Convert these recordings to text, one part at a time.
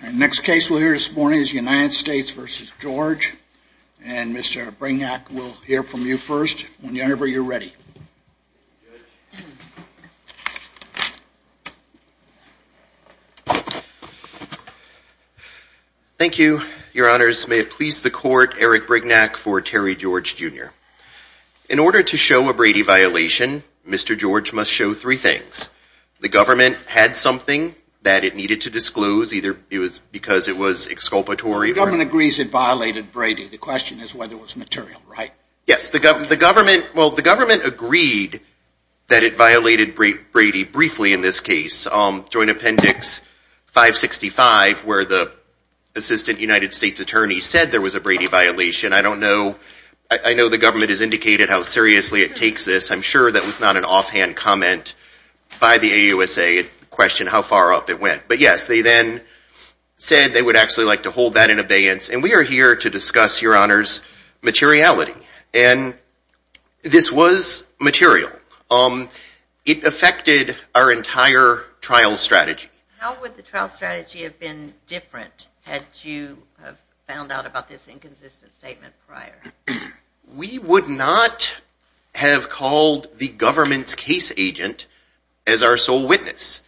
The next case we'll hear this morning is United States v. George. And Mr. Brignac will hear from you first whenever you're ready. Thank you, your honors. May it please the court, Eric Brignac for Terry George, Jr. In order to show a Brady violation, Mr. George must show three things. The government had something that it needed to disclose, either because it was exculpatory or... The government agrees it violated Brady. The question is whether it was material, right? Yes. The government agreed that it violated Brady briefly in this case. Joint appendix 565, where the assistant United States attorney said there was a Brady violation. I don't know. I know the government has indicated how seriously it takes this. I'm sure that was not an offhand comment by the AUSA to question how far up it went. But yes, they then said they would actually like to hold that in abeyance. And we are here to discuss, your honors, materiality. And this was material. It affected our entire trial strategy. How would the trial strategy have been different had you found out about this inconsistent statement prior? We would not have called the government's case agent as our sole witness.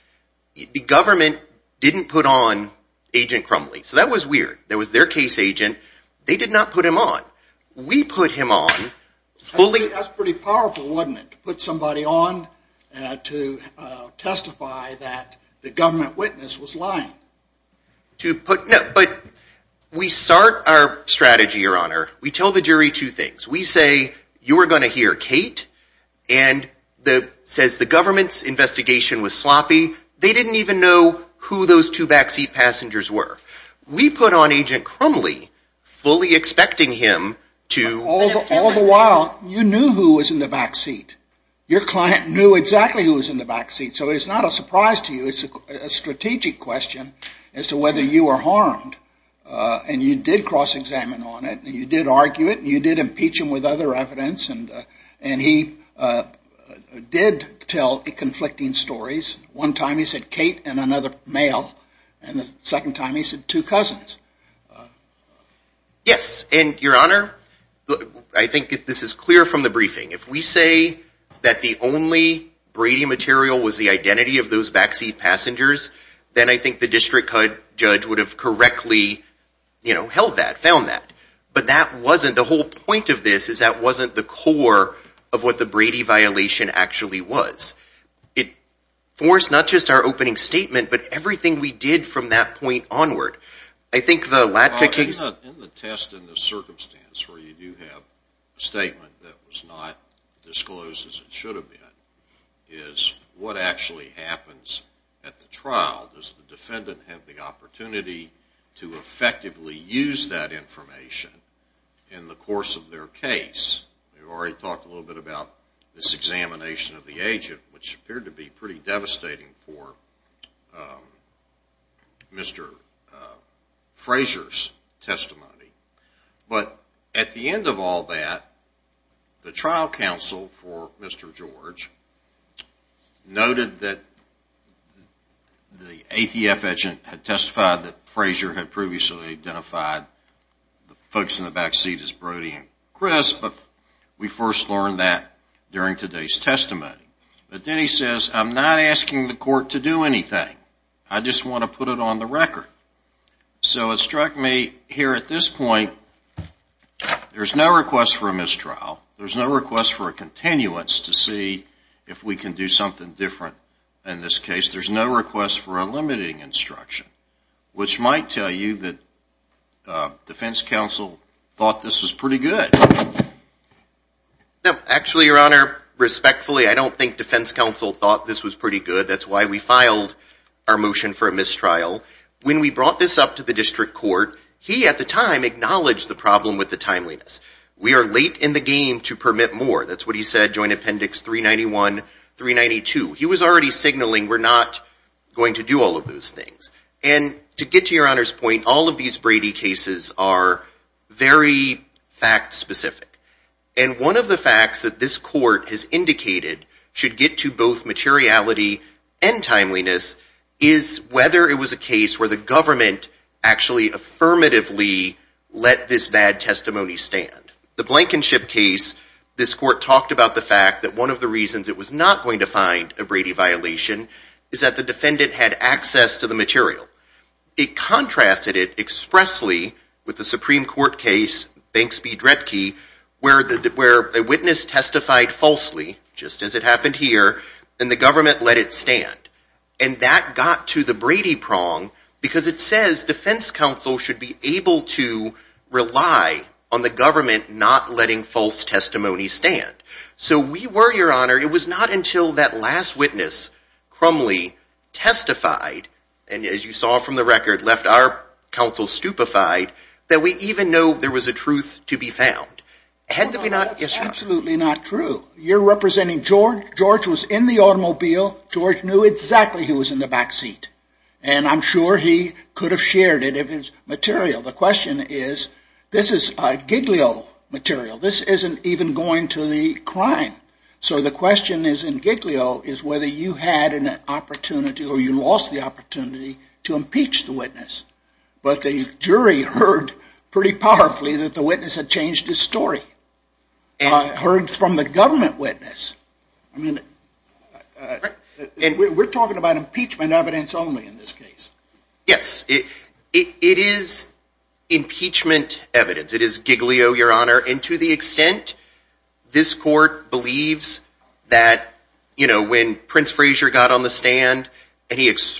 The government didn't put on Agent Crumley. So that was weird. That was their case agent. They did not put him on. We put him on. That's pretty powerful, wasn't it? To put somebody on to testify that the government witness was lying. But we start our strategy, your honor. We tell the jury two things. We say, you are going to hear Kate. And it says the government's investigation was sloppy. They didn't even know who those two backseat passengers were. We put on Agent Crumley, fully expecting him to... All the while, you knew who was in the backseat. Your client knew exactly who was in the backseat. So it's not a surprise to you. It's a strategic question as to whether you were harmed. And you did cross-examine on it. You did argue it. You did impeach him with other evidence. And he did tell conflicting stories. One time he said Kate and another male. And the second time he said two cousins. Yes. And your honor, I think this is clear from the briefing. If we say that the only Brady material was the identity of those backseat passengers, then I think the district judge would have correctly held that, found that. But the whole point of this is that wasn't the core of what the Brady violation actually was. It forced not just our opening statement, but everything we did from that point onward. I think the Latka case... In the test, in the circumstance where you do have a statement that was not disclosed as it should have been, is what actually happens at the trial. Does the defendant have the opportunity to effectively use that information in the course of their case? We've already talked a little bit about this examination of the agent, which appeared to be pretty devastating for Mr. Frazier's testimony. But at the end of all that, the trial counsel for Mr. George noted that the ATF agent had testified that Frazier had previously identified the folks in the backseat as Brady and Chris, but we first learned that during today's testimony. But then he says, I'm not asking the court to do anything. I just want to put it on the record. So it struck me here at this point, there's no request for a mistrial. There's no request for a continuance to see if we can do something different in this case. There's no request for a limiting instruction, which might tell you that defense counsel thought this was pretty good. No, actually, your honor, respectfully, I don't think defense counsel thought this was pretty good. That's why we filed our motion for a mistrial. When we brought this up to the district court, he, at the time, acknowledged the problem with the timeliness. We are late in the game to permit more. That's what he said, joint appendix 391, 392. He was already signaling we're not going to do all of those things. And to get to your honor's point, all of these Brady cases are very fact specific. And one of the facts that this court has indicated should get to both materiality and timeliness is whether it was a case where the government actually affirmatively let this bad testimony stand. The Blankenship case, this court talked about the fact that one of the reasons it was not going to find a Brady violation is that the defendant had access to the material. It contrasted it expressly with the Supreme Court case, Banks v. Dredke, where a witness testified falsely, just as it happened here, and the government let it stand. And that got to the Brady prong because it says defense counsel should be able to rely on the government not letting false testimony stand. So we were, your honor, it was not until that last witness, Crumley, testified, and as you saw from the record, left our counsel stupefied, that we even know there was a truth to be found. Had there been not, it's absolutely not true. You're representing George, George was in the automobile, George knew exactly he was in the back seat. And I'm sure he could have shared it if it was material. The question is, this is Giglio material. This isn't even going to the crime. So the question is in Giglio is whether you had an opportunity or you lost the opportunity to impeach the witness. But the jury heard pretty powerfully that the witness had changed his story and heard from the government witness. And we're talking about impeachment evidence only in this case. Yes, it is impeachment evidence. It is Giglio, your honor, and to the extent this court believes that, you know, when Prince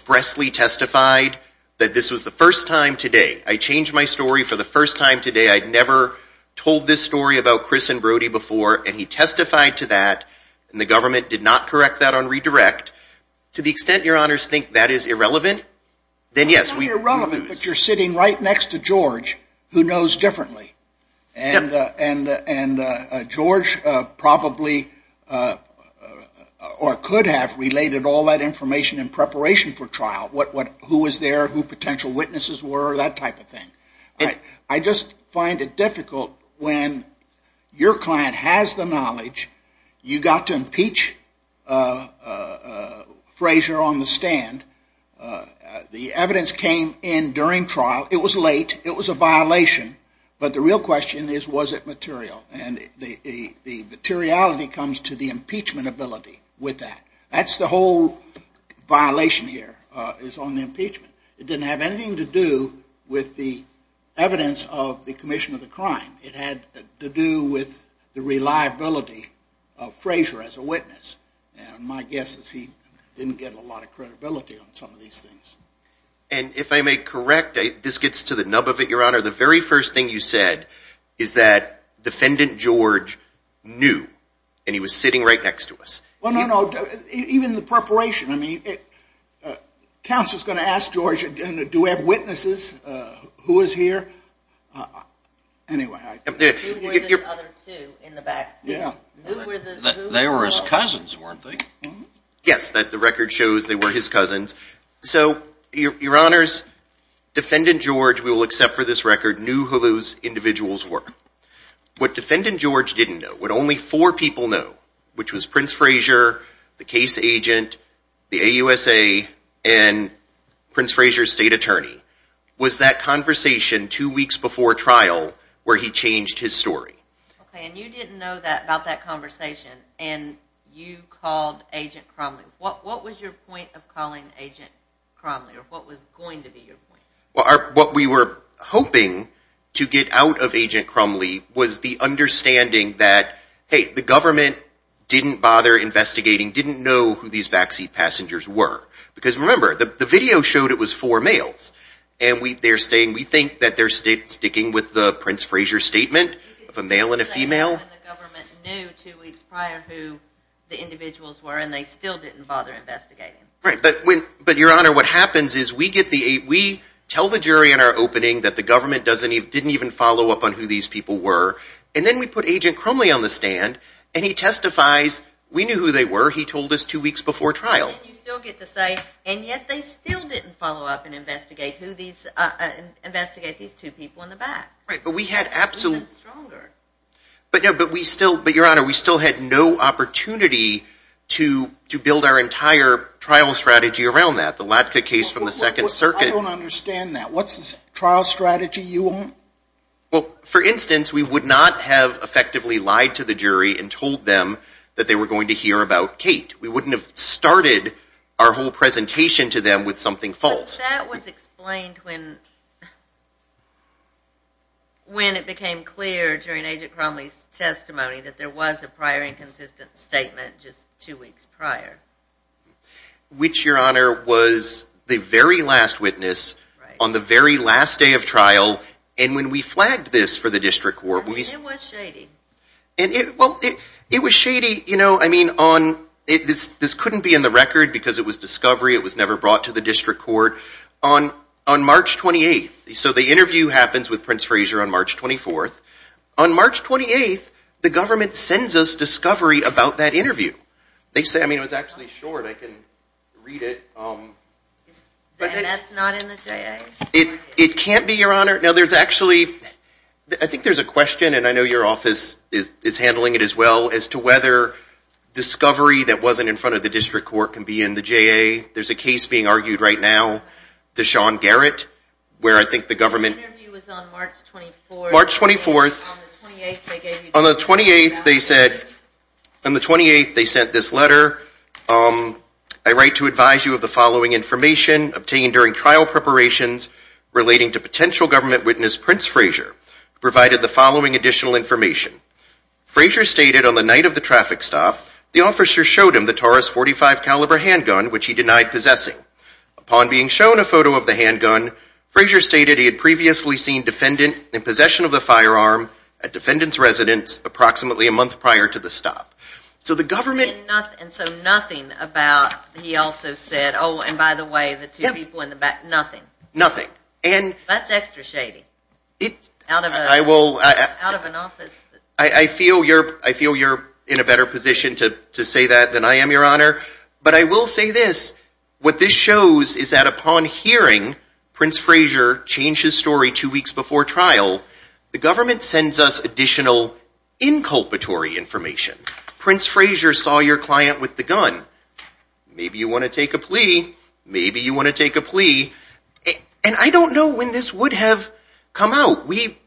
Wesley testified that this was the first time today, I changed my story for the first time today. I'd never told this story about Chris and Brody before, and he testified to that, and the government did not correct that on redirect. To the extent your honors think that is irrelevant, then yes, we- It's not irrelevant, but you're sitting right next to George, who knows differently. And George probably or could have related all that information in preparation for trial, who was there, who potential witnesses were, that type of thing. I just find it difficult when your client has the knowledge, you got to impeach Frazier on the stand. The evidence came in during trial. It was late. It was a violation, but the real question is, was it material? And the materiality comes to the impeachment ability with that. That's the whole violation here is on the impeachment. It didn't have anything to do with the evidence of the commission of the crime. It had to do with the reliability of Frazier as a witness, and my guess is he didn't get a lot of credibility on some of these things. And if I may correct, this gets to the nub of it, your honor. The very first thing you said is that defendant George knew, and he was sitting right next to us. Well, no, no. Even the preparation. I mean, counsel's going to ask George, do we have witnesses? Who is here? Anyway, I- Who were the other two in the back seat? They were his cousins, weren't they? Yes, the record shows they were his cousins. So, your honors, defendant George, we will accept for this record, knew who those individuals were. What defendant George didn't know, what only four people know, which was Prince Frazier, the case agent, the AUSA, and Prince Frazier's state attorney, was that conversation two weeks before trial where he changed his story. Okay, and you didn't know that about that conversation, and you called Agent Cromley. What was your point of calling Agent Cromley, or what was going to be your point? What we were hoping to get out of Agent Cromley was the understanding that, hey, the government didn't bother investigating, didn't know who these back seat passengers were. Because remember, the video showed it was four males, and we think that they're sticking with the Prince Frazier statement of a male and a female. And the government knew two weeks prior who the individuals were, and they still didn't bother investigating. Right. But, your honor, what happens is we tell the jury in our opening that the government didn't even follow up on who these people were, and then we put Agent Cromley on the stand, and he testifies, we knew who they were. He told us two weeks before trial. And you still get to say, and yet they still didn't follow up and investigate these two people in the back. Right. But we had absolute... You know, but we still... But, your honor, we still had no opportunity to build our entire trial strategy around that. The Latke case from the Second Circuit... I don't understand that. What's the trial strategy you want? Well, for instance, we would not have effectively lied to the jury and told them that they were going to hear about Kate. We wouldn't have started our whole presentation to them with something false. But that was explained when it became clear during Agent Cromley's testimony that there was a prior inconsistent statement just two weeks prior. Which, your honor, was the very last witness on the very last day of trial, and when we flagged this for the district court... It was shady. Well, it was shady, you know, I mean, this couldn't be in the record because it was discovery, it was never brought to the district court. On March 28th, so the interview happens with Prince Frazier on March 24th. On March 28th, the government sends us discovery about that interview. They say... I mean, it was actually short. I can read it. Then that's not in the JA. It can't be, your honor. Now, there's actually... I think there's a question, and I know your office is handling it as well, as to whether discovery that wasn't in front of the district court can be in the JA. There's a case being argued right now, the Sean Garrett, where I think the government... The interview was on March 24th. March 24th. On the 28th, they gave you... On the 28th, they said, on the 28th, they sent this letter, I write to advise you of the following information obtained during trial preparations relating to potential government witness Prince Frazier, provided the following additional information. Frazier stated on the night of the traffic stop, the officer showed him the Taurus .45 caliber handgun, which he denied possessing. Upon being shown a photo of the handgun, Frazier stated he had previously seen defendant in possession of the firearm at defendant's residence approximately a month prior to the stop. So the government... And so nothing about, he also said, oh, and by the way, the two people in the back, nothing. Nothing. And... That's extra shady. Out of an office... I feel you're in a better position to say that than I am, Your Honor. But I will say this, what this shows is that upon hearing Prince Frazier change his story two weeks before trial, the government sends us additional inculpatory information. Prince Frazier saw your client with the gun. Maybe you want to take a plea. Maybe you want to take a plea. And I don't know when this would have come out. We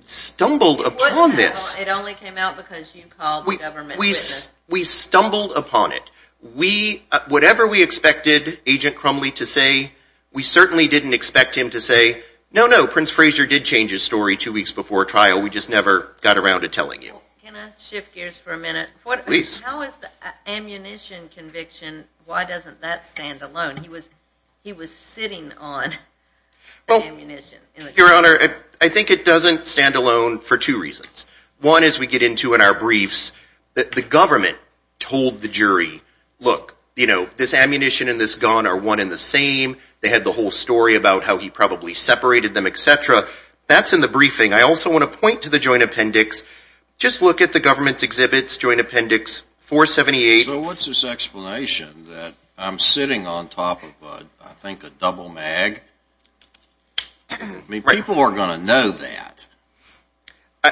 stumbled upon this. It only came out because you called the government's witness. We stumbled upon it. We, whatever we expected Agent Crumley to say, we certainly didn't expect him to say, no, no, Prince Frazier did change his story two weeks before trial, we just never got around to telling you. Can I shift gears for a minute? Please. How is the ammunition conviction, why doesn't that stand alone? He was sitting on the ammunition. Your Honor, I think it doesn't stand alone for two reasons. One is we get into in our briefs that the government told the jury, look, you know, this ammunition and this gun are one and the same. They had the whole story about how he probably separated them, et cetera. That's in the briefing. I also want to point to the joint appendix. Just look at the government's exhibits, joint appendix 478. So what's this explanation that I'm sitting on top of, I think, a double mag? People are going to know that.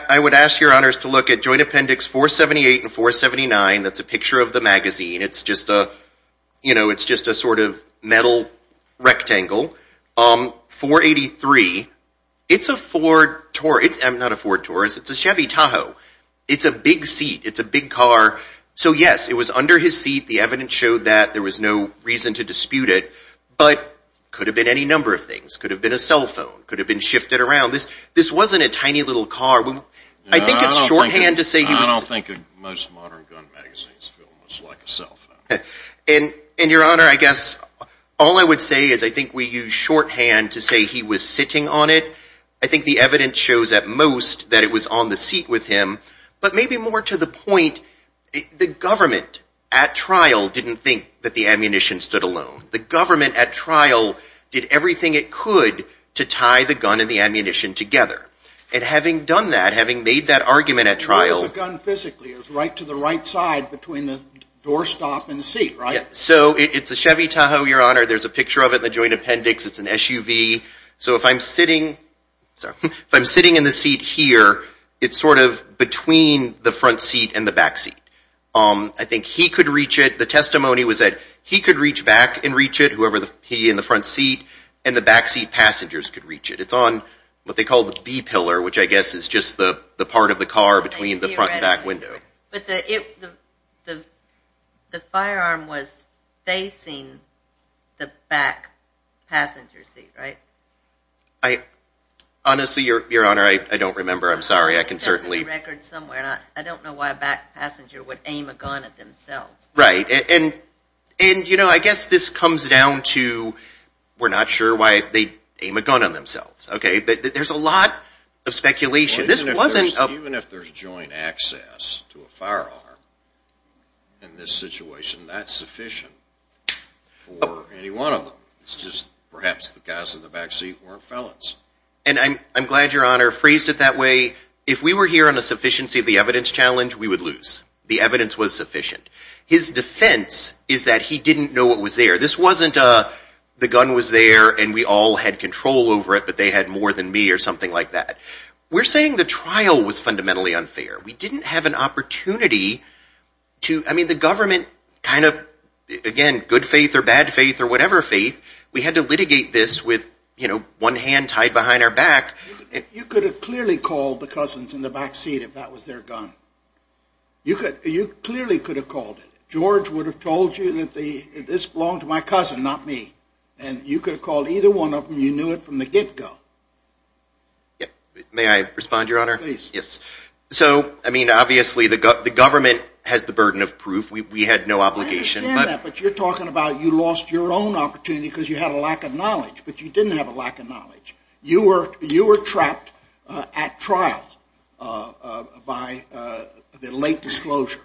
I would ask your honors to look at joint appendix 478 and 479. That's a picture of the magazine. It's just a, you know, it's just a sort of metal rectangle. 483, it's a Ford, not a Ford Taurus, it's a Chevy Tahoe. It's a big seat. It's a big car. So yes, it was under his seat. The evidence showed that. There was no reason to dispute it. But could have been any number of things. Could have been a cell phone. Could have been shifted around. This wasn't a tiny little car. I think it's shorthand to say he was... I don't think most modern gun magazines feel much like a cell phone. And your honor, I guess all I would say is I think we use shorthand to say he was sitting on it. I think the evidence shows at most that it was on the seat with him. But maybe more to the point, the government at trial didn't think that the ammunition stood alone. The government at trial did everything it could to tie the gun and the ammunition together. And having done that, having made that argument at trial... It was a gun physically. It was right to the right side between the doorstop and the seat, right? So it's a Chevy Tahoe, your honor. There's a picture of it in the joint appendix. It's an SUV. So if I'm sitting in the seat here, it's sort of between the front seat and the back seat. I think he could reach it. The testimony was that he could reach back and reach it, whoever he in the front seat, and the backseat passengers could reach it. It's on what they call the B pillar, which I guess is just the part of the car between the front and back window. Right. But the firearm was facing the back passenger seat, right? Honestly, your honor, I don't remember. I'm sorry. I can certainly... It's in the record somewhere. I don't know why a back passenger would aim a gun at themselves. Right. And you know, I guess this comes down to, we're not sure why they'd aim a gun at themselves. Okay. But there's a lot of speculation. Even if there's joint access to a firearm in this situation, that's sufficient for any one of them. It's just perhaps the guys in the back seat weren't felons. And I'm glad your honor phrased it that way. If we were here on a sufficiency of the evidence challenge, we would lose. The evidence was sufficient. His defense is that he didn't know what was there. This wasn't the gun was there and we all had control over it, but they had more than me or something like that. We're saying the trial was fundamentally unfair. We didn't have an opportunity to, I mean, the government kind of, again, good faith or bad faith or whatever faith, we had to litigate this with, you know, one hand tied behind our back. You could have clearly called the cousins in the back seat if that was their gun. You could, you clearly could have called it. George would have told you that this belonged to my cousin, not me. And you could have called either one of them. You knew it from the get-go. Yeah. May I respond, your honor? Please. Yes. So, I mean, obviously the government has the burden of proof. We had no obligation. I understand that, but you're talking about you lost your own opportunity because you had a lack of knowledge, but you didn't have a lack of knowledge. You were trapped at trial by the late disclosure.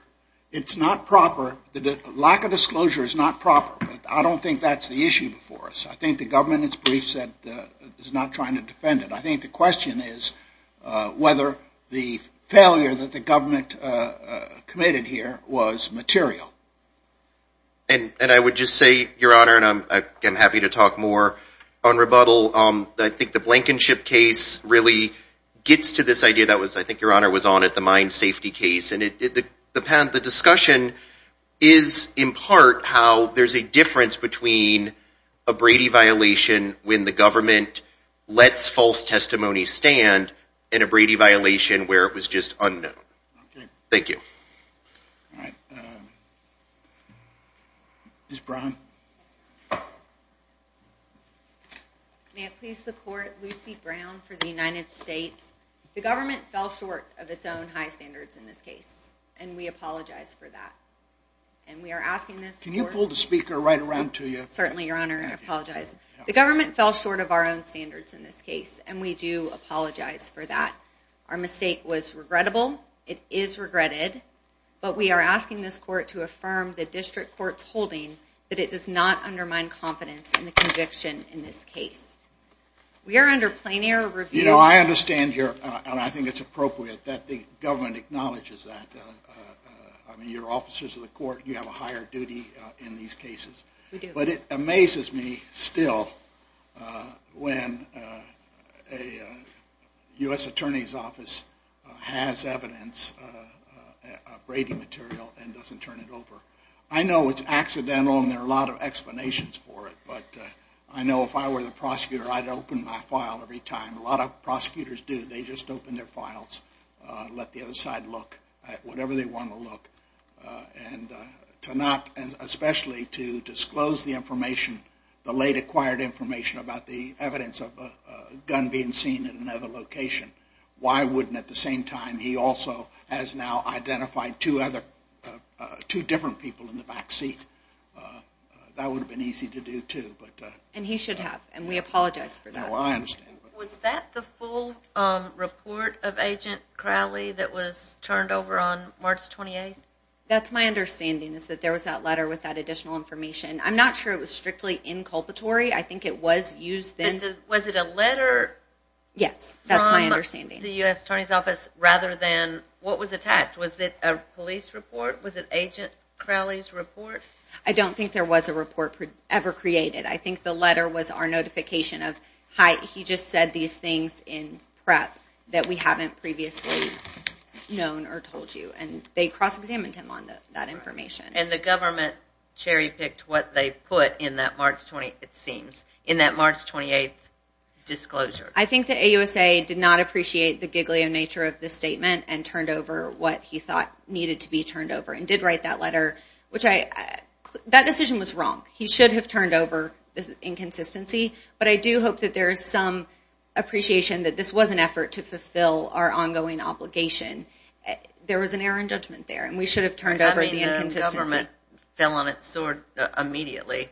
It's not proper. The lack of disclosure is not proper, but I don't think that's the issue before us. I think the government is not trying to defend it. I think the question is whether the failure that the government committed here was material. And I would just say, your honor, and I'm happy to talk more on rebuttal, I think the Blankenship case really gets to this idea that was, I think your honor was on it, the mine safety case. And the discussion is, in part, how there's a difference between a Brady violation when the government lets false testimony stand and a Brady violation where it was just unknown. Thank you. All right. Ms. Brown. May it please the court, Lucy Brown for the United States. The government fell short of its own high standards in this case, and we apologize for that. Can you pull the speaker right around to you? Certainly, your honor. I apologize. The government fell short of our own standards in this case, and we do apologize for that. Our mistake was regrettable. It is regretted. But we are asking this court to affirm the district court's holding that it does not undermine confidence in the conviction in this case. We are under plenary review. You know, I understand your, and I think it's appropriate that the government acknowledges that. I mean, you're officers of the court, you have a higher duty in these cases. We do. But it amazes me still when a U.S. attorney's office has evidence, a Brady material, and doesn't turn it over. I know it's accidental and there are a lot of explanations for it, but I know if I were the prosecutor, I'd open my file every time. A lot of prosecutors do. They just open their files, let the other side look at whatever they want to look. And to not, and especially to disclose the information, the late acquired information about the evidence of a gun being seen in another location. Why wouldn't at the same time, he also has now identified two other, two different people in the back seat. That would have been easy to do, too. And he should have. And we apologize for that. No, I understand. Was that the full report of Agent Crowley that was turned over on March 28th? That's my understanding, is that there was that letter with that additional information. I'm not sure it was strictly inculpatory. I think it was used then. Was it a letter? Yes. That's my understanding. From the U.S. attorney's office rather than what was attacked. Was it a police report? Was it Agent Crowley's report? I don't think there was a report ever created. I think the letter was our notification of, hi, he just said these things in prep that we haven't previously known or told you. And they cross-examined him on that information. And the government cherry-picked what they put in that March 28th, it seems, in that March 28th disclosure. I think the AUSA did not appreciate the giggly nature of this statement and turned over what he thought needed to be turned over and did write that letter, which I, that decision was wrong. He should have turned over the inconsistency, but I do hope that there is some appreciation that this was an effort to fulfill our ongoing obligation. There was an error in judgment there, and we should have turned over the inconsistency. I mean, the government fell on its sword immediately.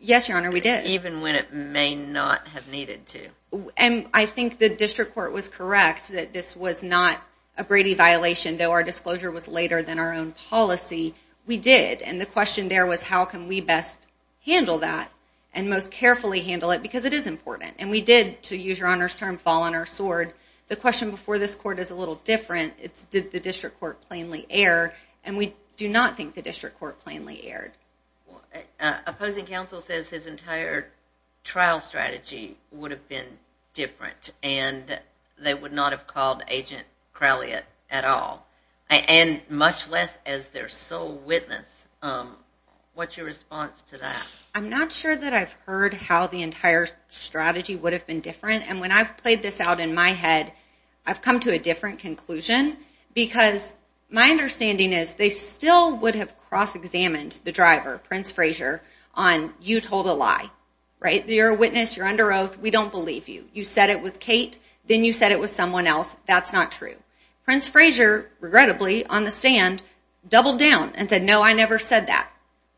Yes, Your Honor, we did. Even when it may not have needed to. And I think the district court was correct that this was not a Brady violation, though our disclosure was later than our own policy. We did, and the question there was how can we best handle that and most carefully handle it, because it is important. And we did, to use Your Honor's term, fall on our sword. The question before this court is a little different. It's did the district court plainly err, and we do not think the district court plainly erred. Opposing counsel says his entire trial strategy would have been different, and they would not have called Agent Crowley at all, and much less as their sole witness. What's your response to that? I'm not sure that I've heard how the entire strategy would have been different, and when I've played this out in my head, I've come to a different conclusion, because my understanding is they still would have cross-examined the driver, Prince Frazier, on you told a lie. You're a witness, you're under oath, we don't believe you. You said it was Kate, then you said it was someone else. That's not true. Prince Frazier, regrettably, on the stand, doubled down and said, no, I never said that.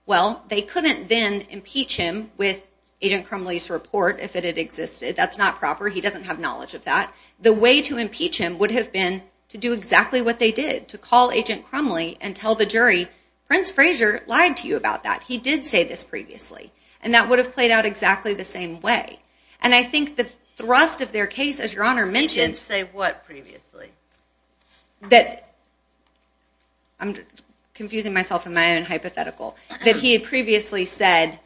Well, they couldn't then impeach him with Agent Crowley's report if it had existed. That's not proper. He doesn't have knowledge of that. The way to impeach him would have been to do exactly what they did, to call Agent Crowley and tell the jury, Prince Frazier lied to you about that. He did say this previously. And that would have played out exactly the same way. And I think the thrust of their case, as Your Honor mentioned They didn't say what previously? That, I'm confusing myself in my own hypothetical, that he had previously said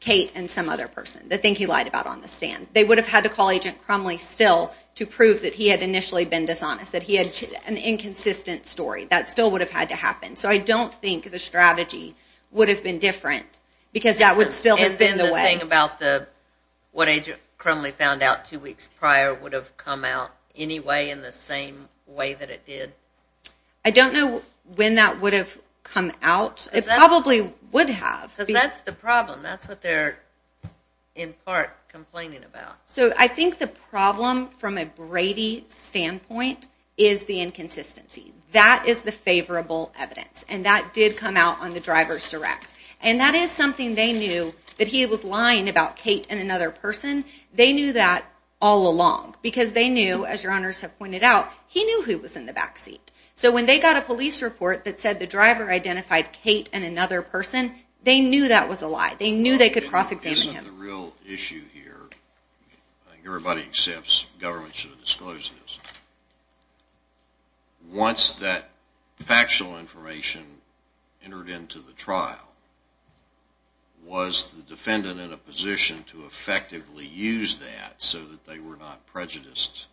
Kate and some other person, the thing he lied about on the stand. They would have had to call Agent Crowley still to prove that he had initially been dishonest, that he had an inconsistent story. That still would have had to happen. So I don't think the strategy would have been different, because that would still have been the way. And then the thing about what Agent Crowley found out two weeks prior would have come out anyway in the same way that it did? I don't know when that would have come out. It probably would have. Because that's the problem. That's what they're, in part, complaining about. So I think the problem, from a Brady standpoint, is the inconsistency. That is the favorable evidence. And that did come out on the Driver's Direct. And that is something they knew, that he was lying about Kate and another person. They knew that all along. Because they knew, as your honors have pointed out, he knew who was in the back seat. So when they got a police report that said the Driver identified Kate and another person, they knew that was a lie. They knew they could cross-examine him. Isn't the real issue here, I think everybody accepts government should have disclosed this, once that factual information entered into the trial, was the defendant in a position to effectively use that so that they were not prejudiced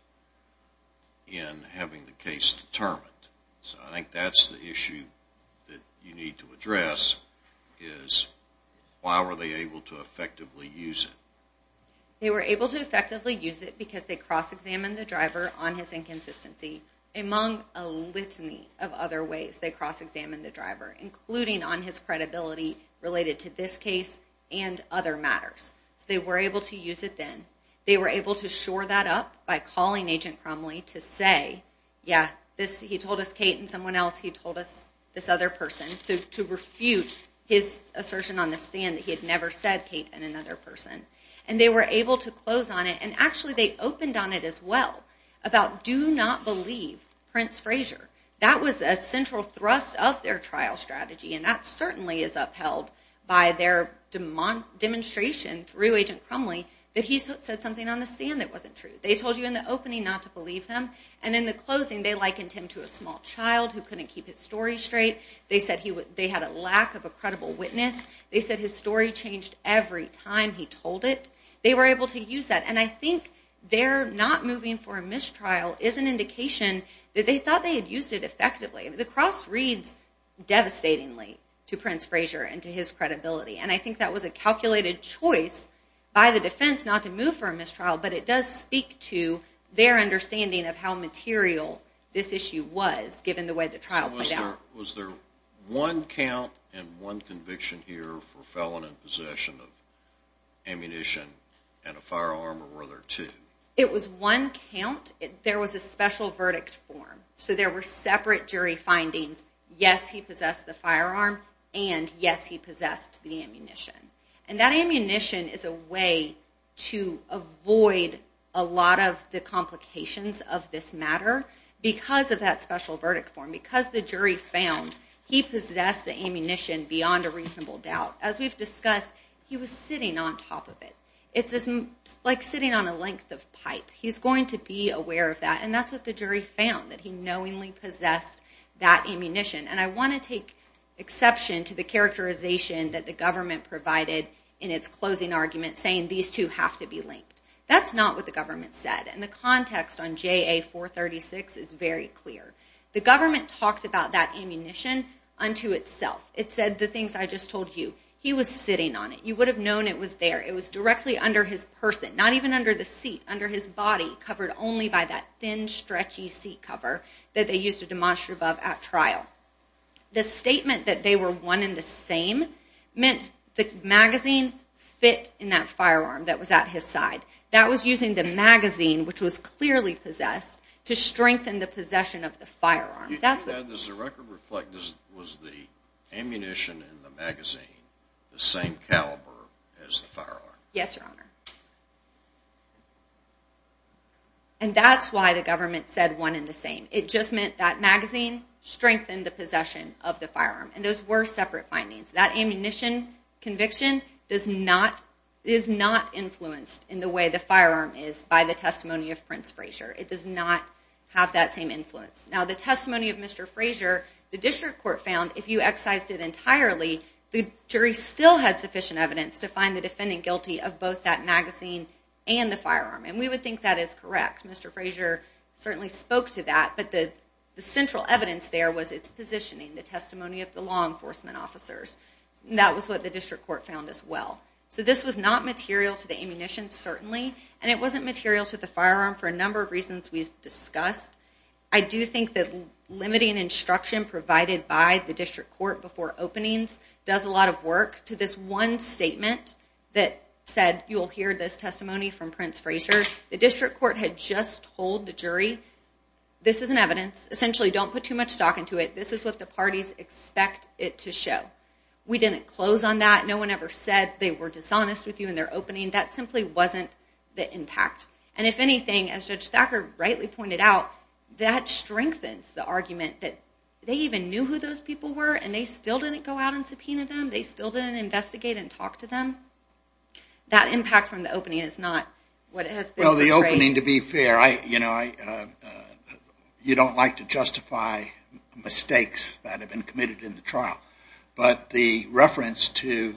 in having the case determined? So I think that's the issue that you need to address, is why were they able to effectively use it? They were able to effectively use it because they cross-examined the Driver on his inconsistency, among a litany of other ways they cross-examined the Driver, including on his credibility related to this case and other matters. So they were able to use it then. They were able to shore that up by calling Agent Crumley to say, yeah, he told us Kate and someone else, he told us this other person, to refute his assertion on the stand that he had never said Kate and another person. And they were able to close on it, and actually they opened on it as well, about do not believe Prince Frazier. That was a central thrust of their trial strategy, and that certainly is upheld by their demonstration through Agent Crumley that he said something on the stand that wasn't true. They told you in the opening not to believe him, and in the closing they likened him to a small child who couldn't keep his story straight. They said they had a lack of a credible witness. They said his story changed every time he told it. They were able to use that, and I think their not moving for a mistrial is an indication that they thought they had used it effectively. The cross reads devastatingly to Prince Frazier and to his credibility, and I think that was a calculated choice by the defense not to move for a mistrial, but it does speak to their understanding of how material this issue was, given the way the trial played out. Was there one count and one conviction here for felon in possession of ammunition and a firearm, or were there two? It was one count. There was a special verdict form, so there were separate jury findings. Yes, he possessed the firearm, and yes, he possessed the ammunition. And that ammunition is a way to avoid a lot of the complications of this matter because of that special verdict form. Because the jury found he possessed the ammunition beyond a reasonable doubt. As we've discussed, he was sitting on top of it. It's like sitting on a length of pipe. He's going to be aware of that, and that's what the jury found, that he knowingly possessed that ammunition. And I want to take exception to the characterization that the government provided in its closing argument saying these two have to be linked. That's not what the government said, and the context on JA-436 is very clear. The government talked about that ammunition unto itself. It said the things I just told you. He was sitting on it. You would have known it was there. It was directly under his person, not even under the seat, under his body, covered only by that thin, stretchy seat cover that they used to demonstrate above at trial. The statement that they were one and the same meant the magazine fit in that firearm that was at his side. That was using the magazine, which was clearly possessed, to strengthen the possession of the firearm. Does the record reflect or was the ammunition in the magazine the same caliber as the firearm? Yes, Your Honor. And that's why the government said one and the same. It just meant that magazine strengthened the possession of the firearm, and those were separate findings. That ammunition conviction is not influenced in the way the firearm is by the testimony of Prince Frazier. It does not have that same influence. Now, the testimony of Mr. Frazier, the district court found, if you excised it entirely, the jury still had sufficient evidence to find the defendant guilty of both that magazine and the firearm, and we would think that is correct. Mr. Frazier certainly spoke to that, but the central evidence there was its positioning, the testimony of the law enforcement officers. That was what the district court found as well. So this was not material to the ammunition, certainly, and it wasn't material to the firearm for a number of reasons we've discussed. I do think that limiting instruction provided by the district court before openings does a lot of work to this one statement that said, you will hear this testimony from Prince Frazier. The district court had just told the jury, this is an evidence. Essentially, don't put too much stock into it. This is what the parties expect it to show. We didn't close on that. No one ever said they were dishonest with you in their opening. That simply wasn't the impact. And if anything, as Judge Thacker rightly pointed out, that strengthens the argument that they even knew who those people were, and they still didn't go out and subpoena them, they still didn't investigate and talk to them. That impact from the opening is not what has been portrayed. Well, the opening, to be fair, you don't like to justify mistakes that have been committed in the trial, but the reference to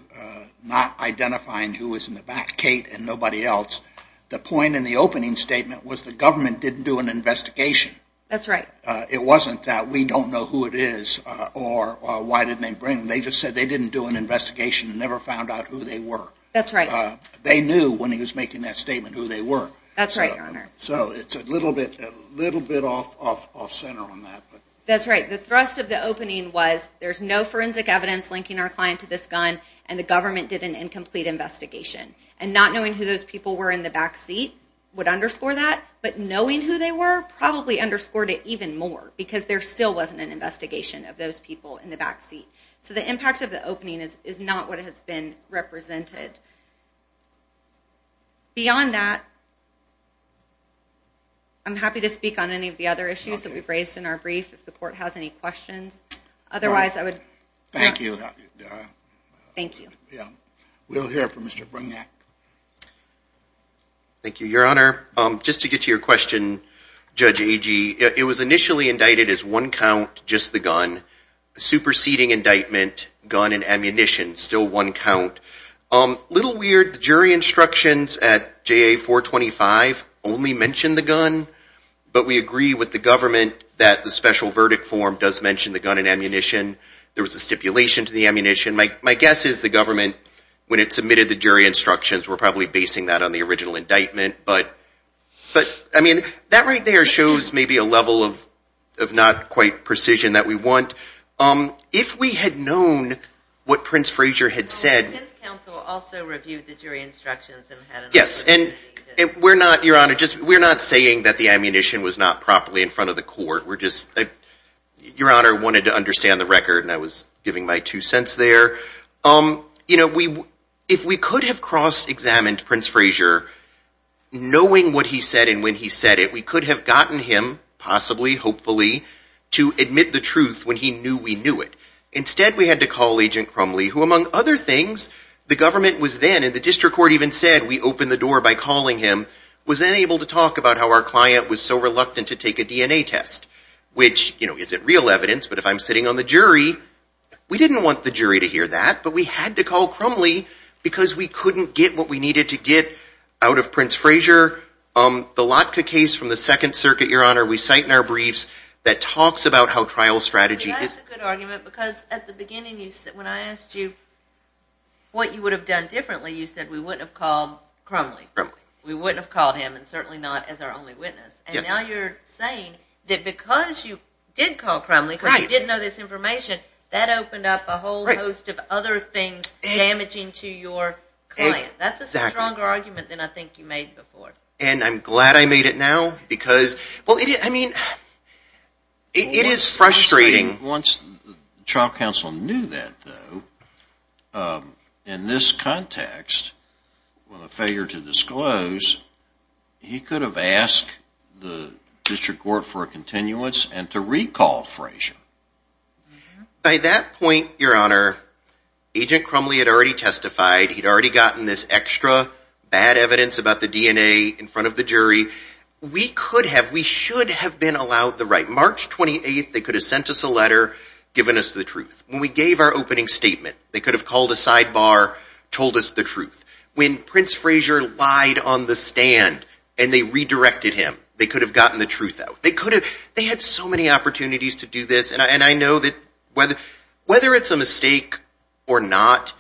not identifying who was in the back, Kate and nobody else, the point in the opening statement was the government didn't do an investigation. That's right. It wasn't that we don't know who it is or why didn't they bring them. They just said they didn't do an investigation and never found out who they were. That's right. They knew when he was making that statement who they were. That's right, Your Honor. So it's a little bit off-center on that. That's right. The thrust of the opening was there's no forensic evidence linking our client to this gun, and the government did an incomplete investigation. And not knowing who those people were in the back seat would underscore that, but knowing who they were probably underscored it even more because there still wasn't an investigation of those people in the back seat. So the impact of the opening is not what has been represented. Beyond that, I'm happy to speak on any of the other issues that we've raised in our brief if the Court has any questions. Otherwise, I would... Thank you. Thank you. We'll hear from Mr. Brignac. Thank you, Your Honor. Just to get to your question, Judge Agee, it was initially indicted as one count, just the gun. The superseding indictment, gun and ammunition, still one count. A little weird, the jury instructions at JA-425 only mention the gun, but we agree with the government that the special verdict form does mention the gun and ammunition. There was a stipulation to the ammunition. My guess is the government, when it submitted the jury instructions, were probably basing that on the original indictment. But, I mean, that right there shows maybe a level of not quite precision that we want. If we had known what Prince Frazier had said... The defense counsel also reviewed the jury instructions and had... Yes, and we're not, Your Honor, just we're not saying that the ammunition was not properly in front of the Court. We're just... Your Honor wanted to understand the record, and I was giving my two cents there. You know, if we could have cross-examined Prince Frazier, knowing what he said and when he said it, we could have gotten him, possibly, hopefully, to admit the truth when he knew we knew it. Instead, we had to call Agent Crumley, who, among other things, the government was then, and the district court even said we opened the door by calling him, was then able to talk about how our client was so reluctant to take a DNA test, which, you know, isn't real evidence, but if I'm sitting on the jury, we didn't want the jury to hear that, but we had to call Crumley because we couldn't get what we needed to get out of Prince Frazier. The Lotka case from the Second Circuit, Your Honor, we cite in our briefs that talks about how trial strategy is... That's a good argument, because at the beginning, when I asked you what you would have done differently, you said we wouldn't have called Crumley. Crumley. We wouldn't have called him, and certainly not as our only witness. Yes. And now you're saying that because you did call Crumley... Right. ...but you didn't know this information, that opened up a whole host of other things damaging to your client. Exactly. That's a stronger argument than I think you made before. And I'm glad I made it now, because, well, I mean, it is frustrating... Once the trial counsel knew that, though, in this context, with a failure to disclose, he could have asked the district court for a continuance and to recall Frazier. By that point, Your Honor, Agent Crumley had already testified. He'd already gotten this extra bad evidence about the DNA in front of the jury. We could have, we should have been allowed the right. March 28th, they could have sent us a letter giving us the truth. When we gave our opening statement, they could have called a sidebar, told us the truth. When Prince Frazier lied on the stand and they redirected him, they could have gotten the truth out. They could have. They had so many opportunities to do this, and I know that whether it's a mistake or not...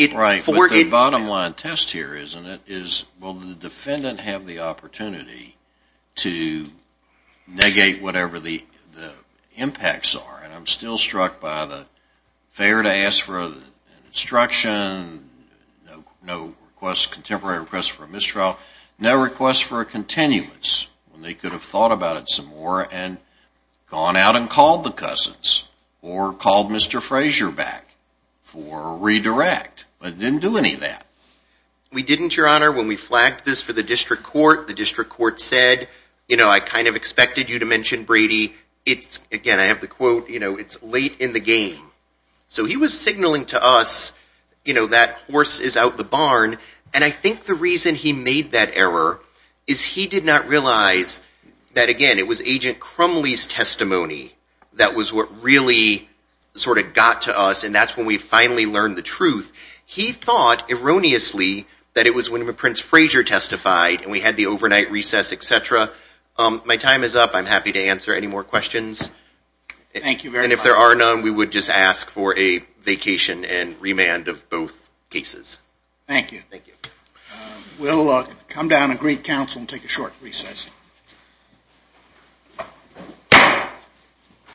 Right, but the bottom line test here, isn't it, is will the defendant have the opportunity to negate whatever the impacts are? And I'm still struck by the failure to ask for an instruction, no contemporary request for a mistrial, no request for a continuance. They could have thought about it some more and gone out and called the cousins or called Mr. Frazier back for a redirect. But it didn't do any of that. We didn't, Your Honor. When we flagged this for the district court, the district court said, you know, I kind of expected you to mention Brady. It's, again, I have the quote, you know, it's late in the game. So he was signaling to us, you know, that horse is out the barn. And I think the reason he made that error is he did not realize that, again, it was Agent Crumley's testimony that was what really sort of got to us, and that's when we finally learned the truth. He thought, erroneously, that it was when Prince Frazier testified and we had the overnight recess, et cetera. My time is up. I'm happy to answer any more questions. Thank you very much. And if there are none, we would just ask for a vacation and remand of both cases. Thank you. Thank you. We'll come down and greet counsel and take a short recess.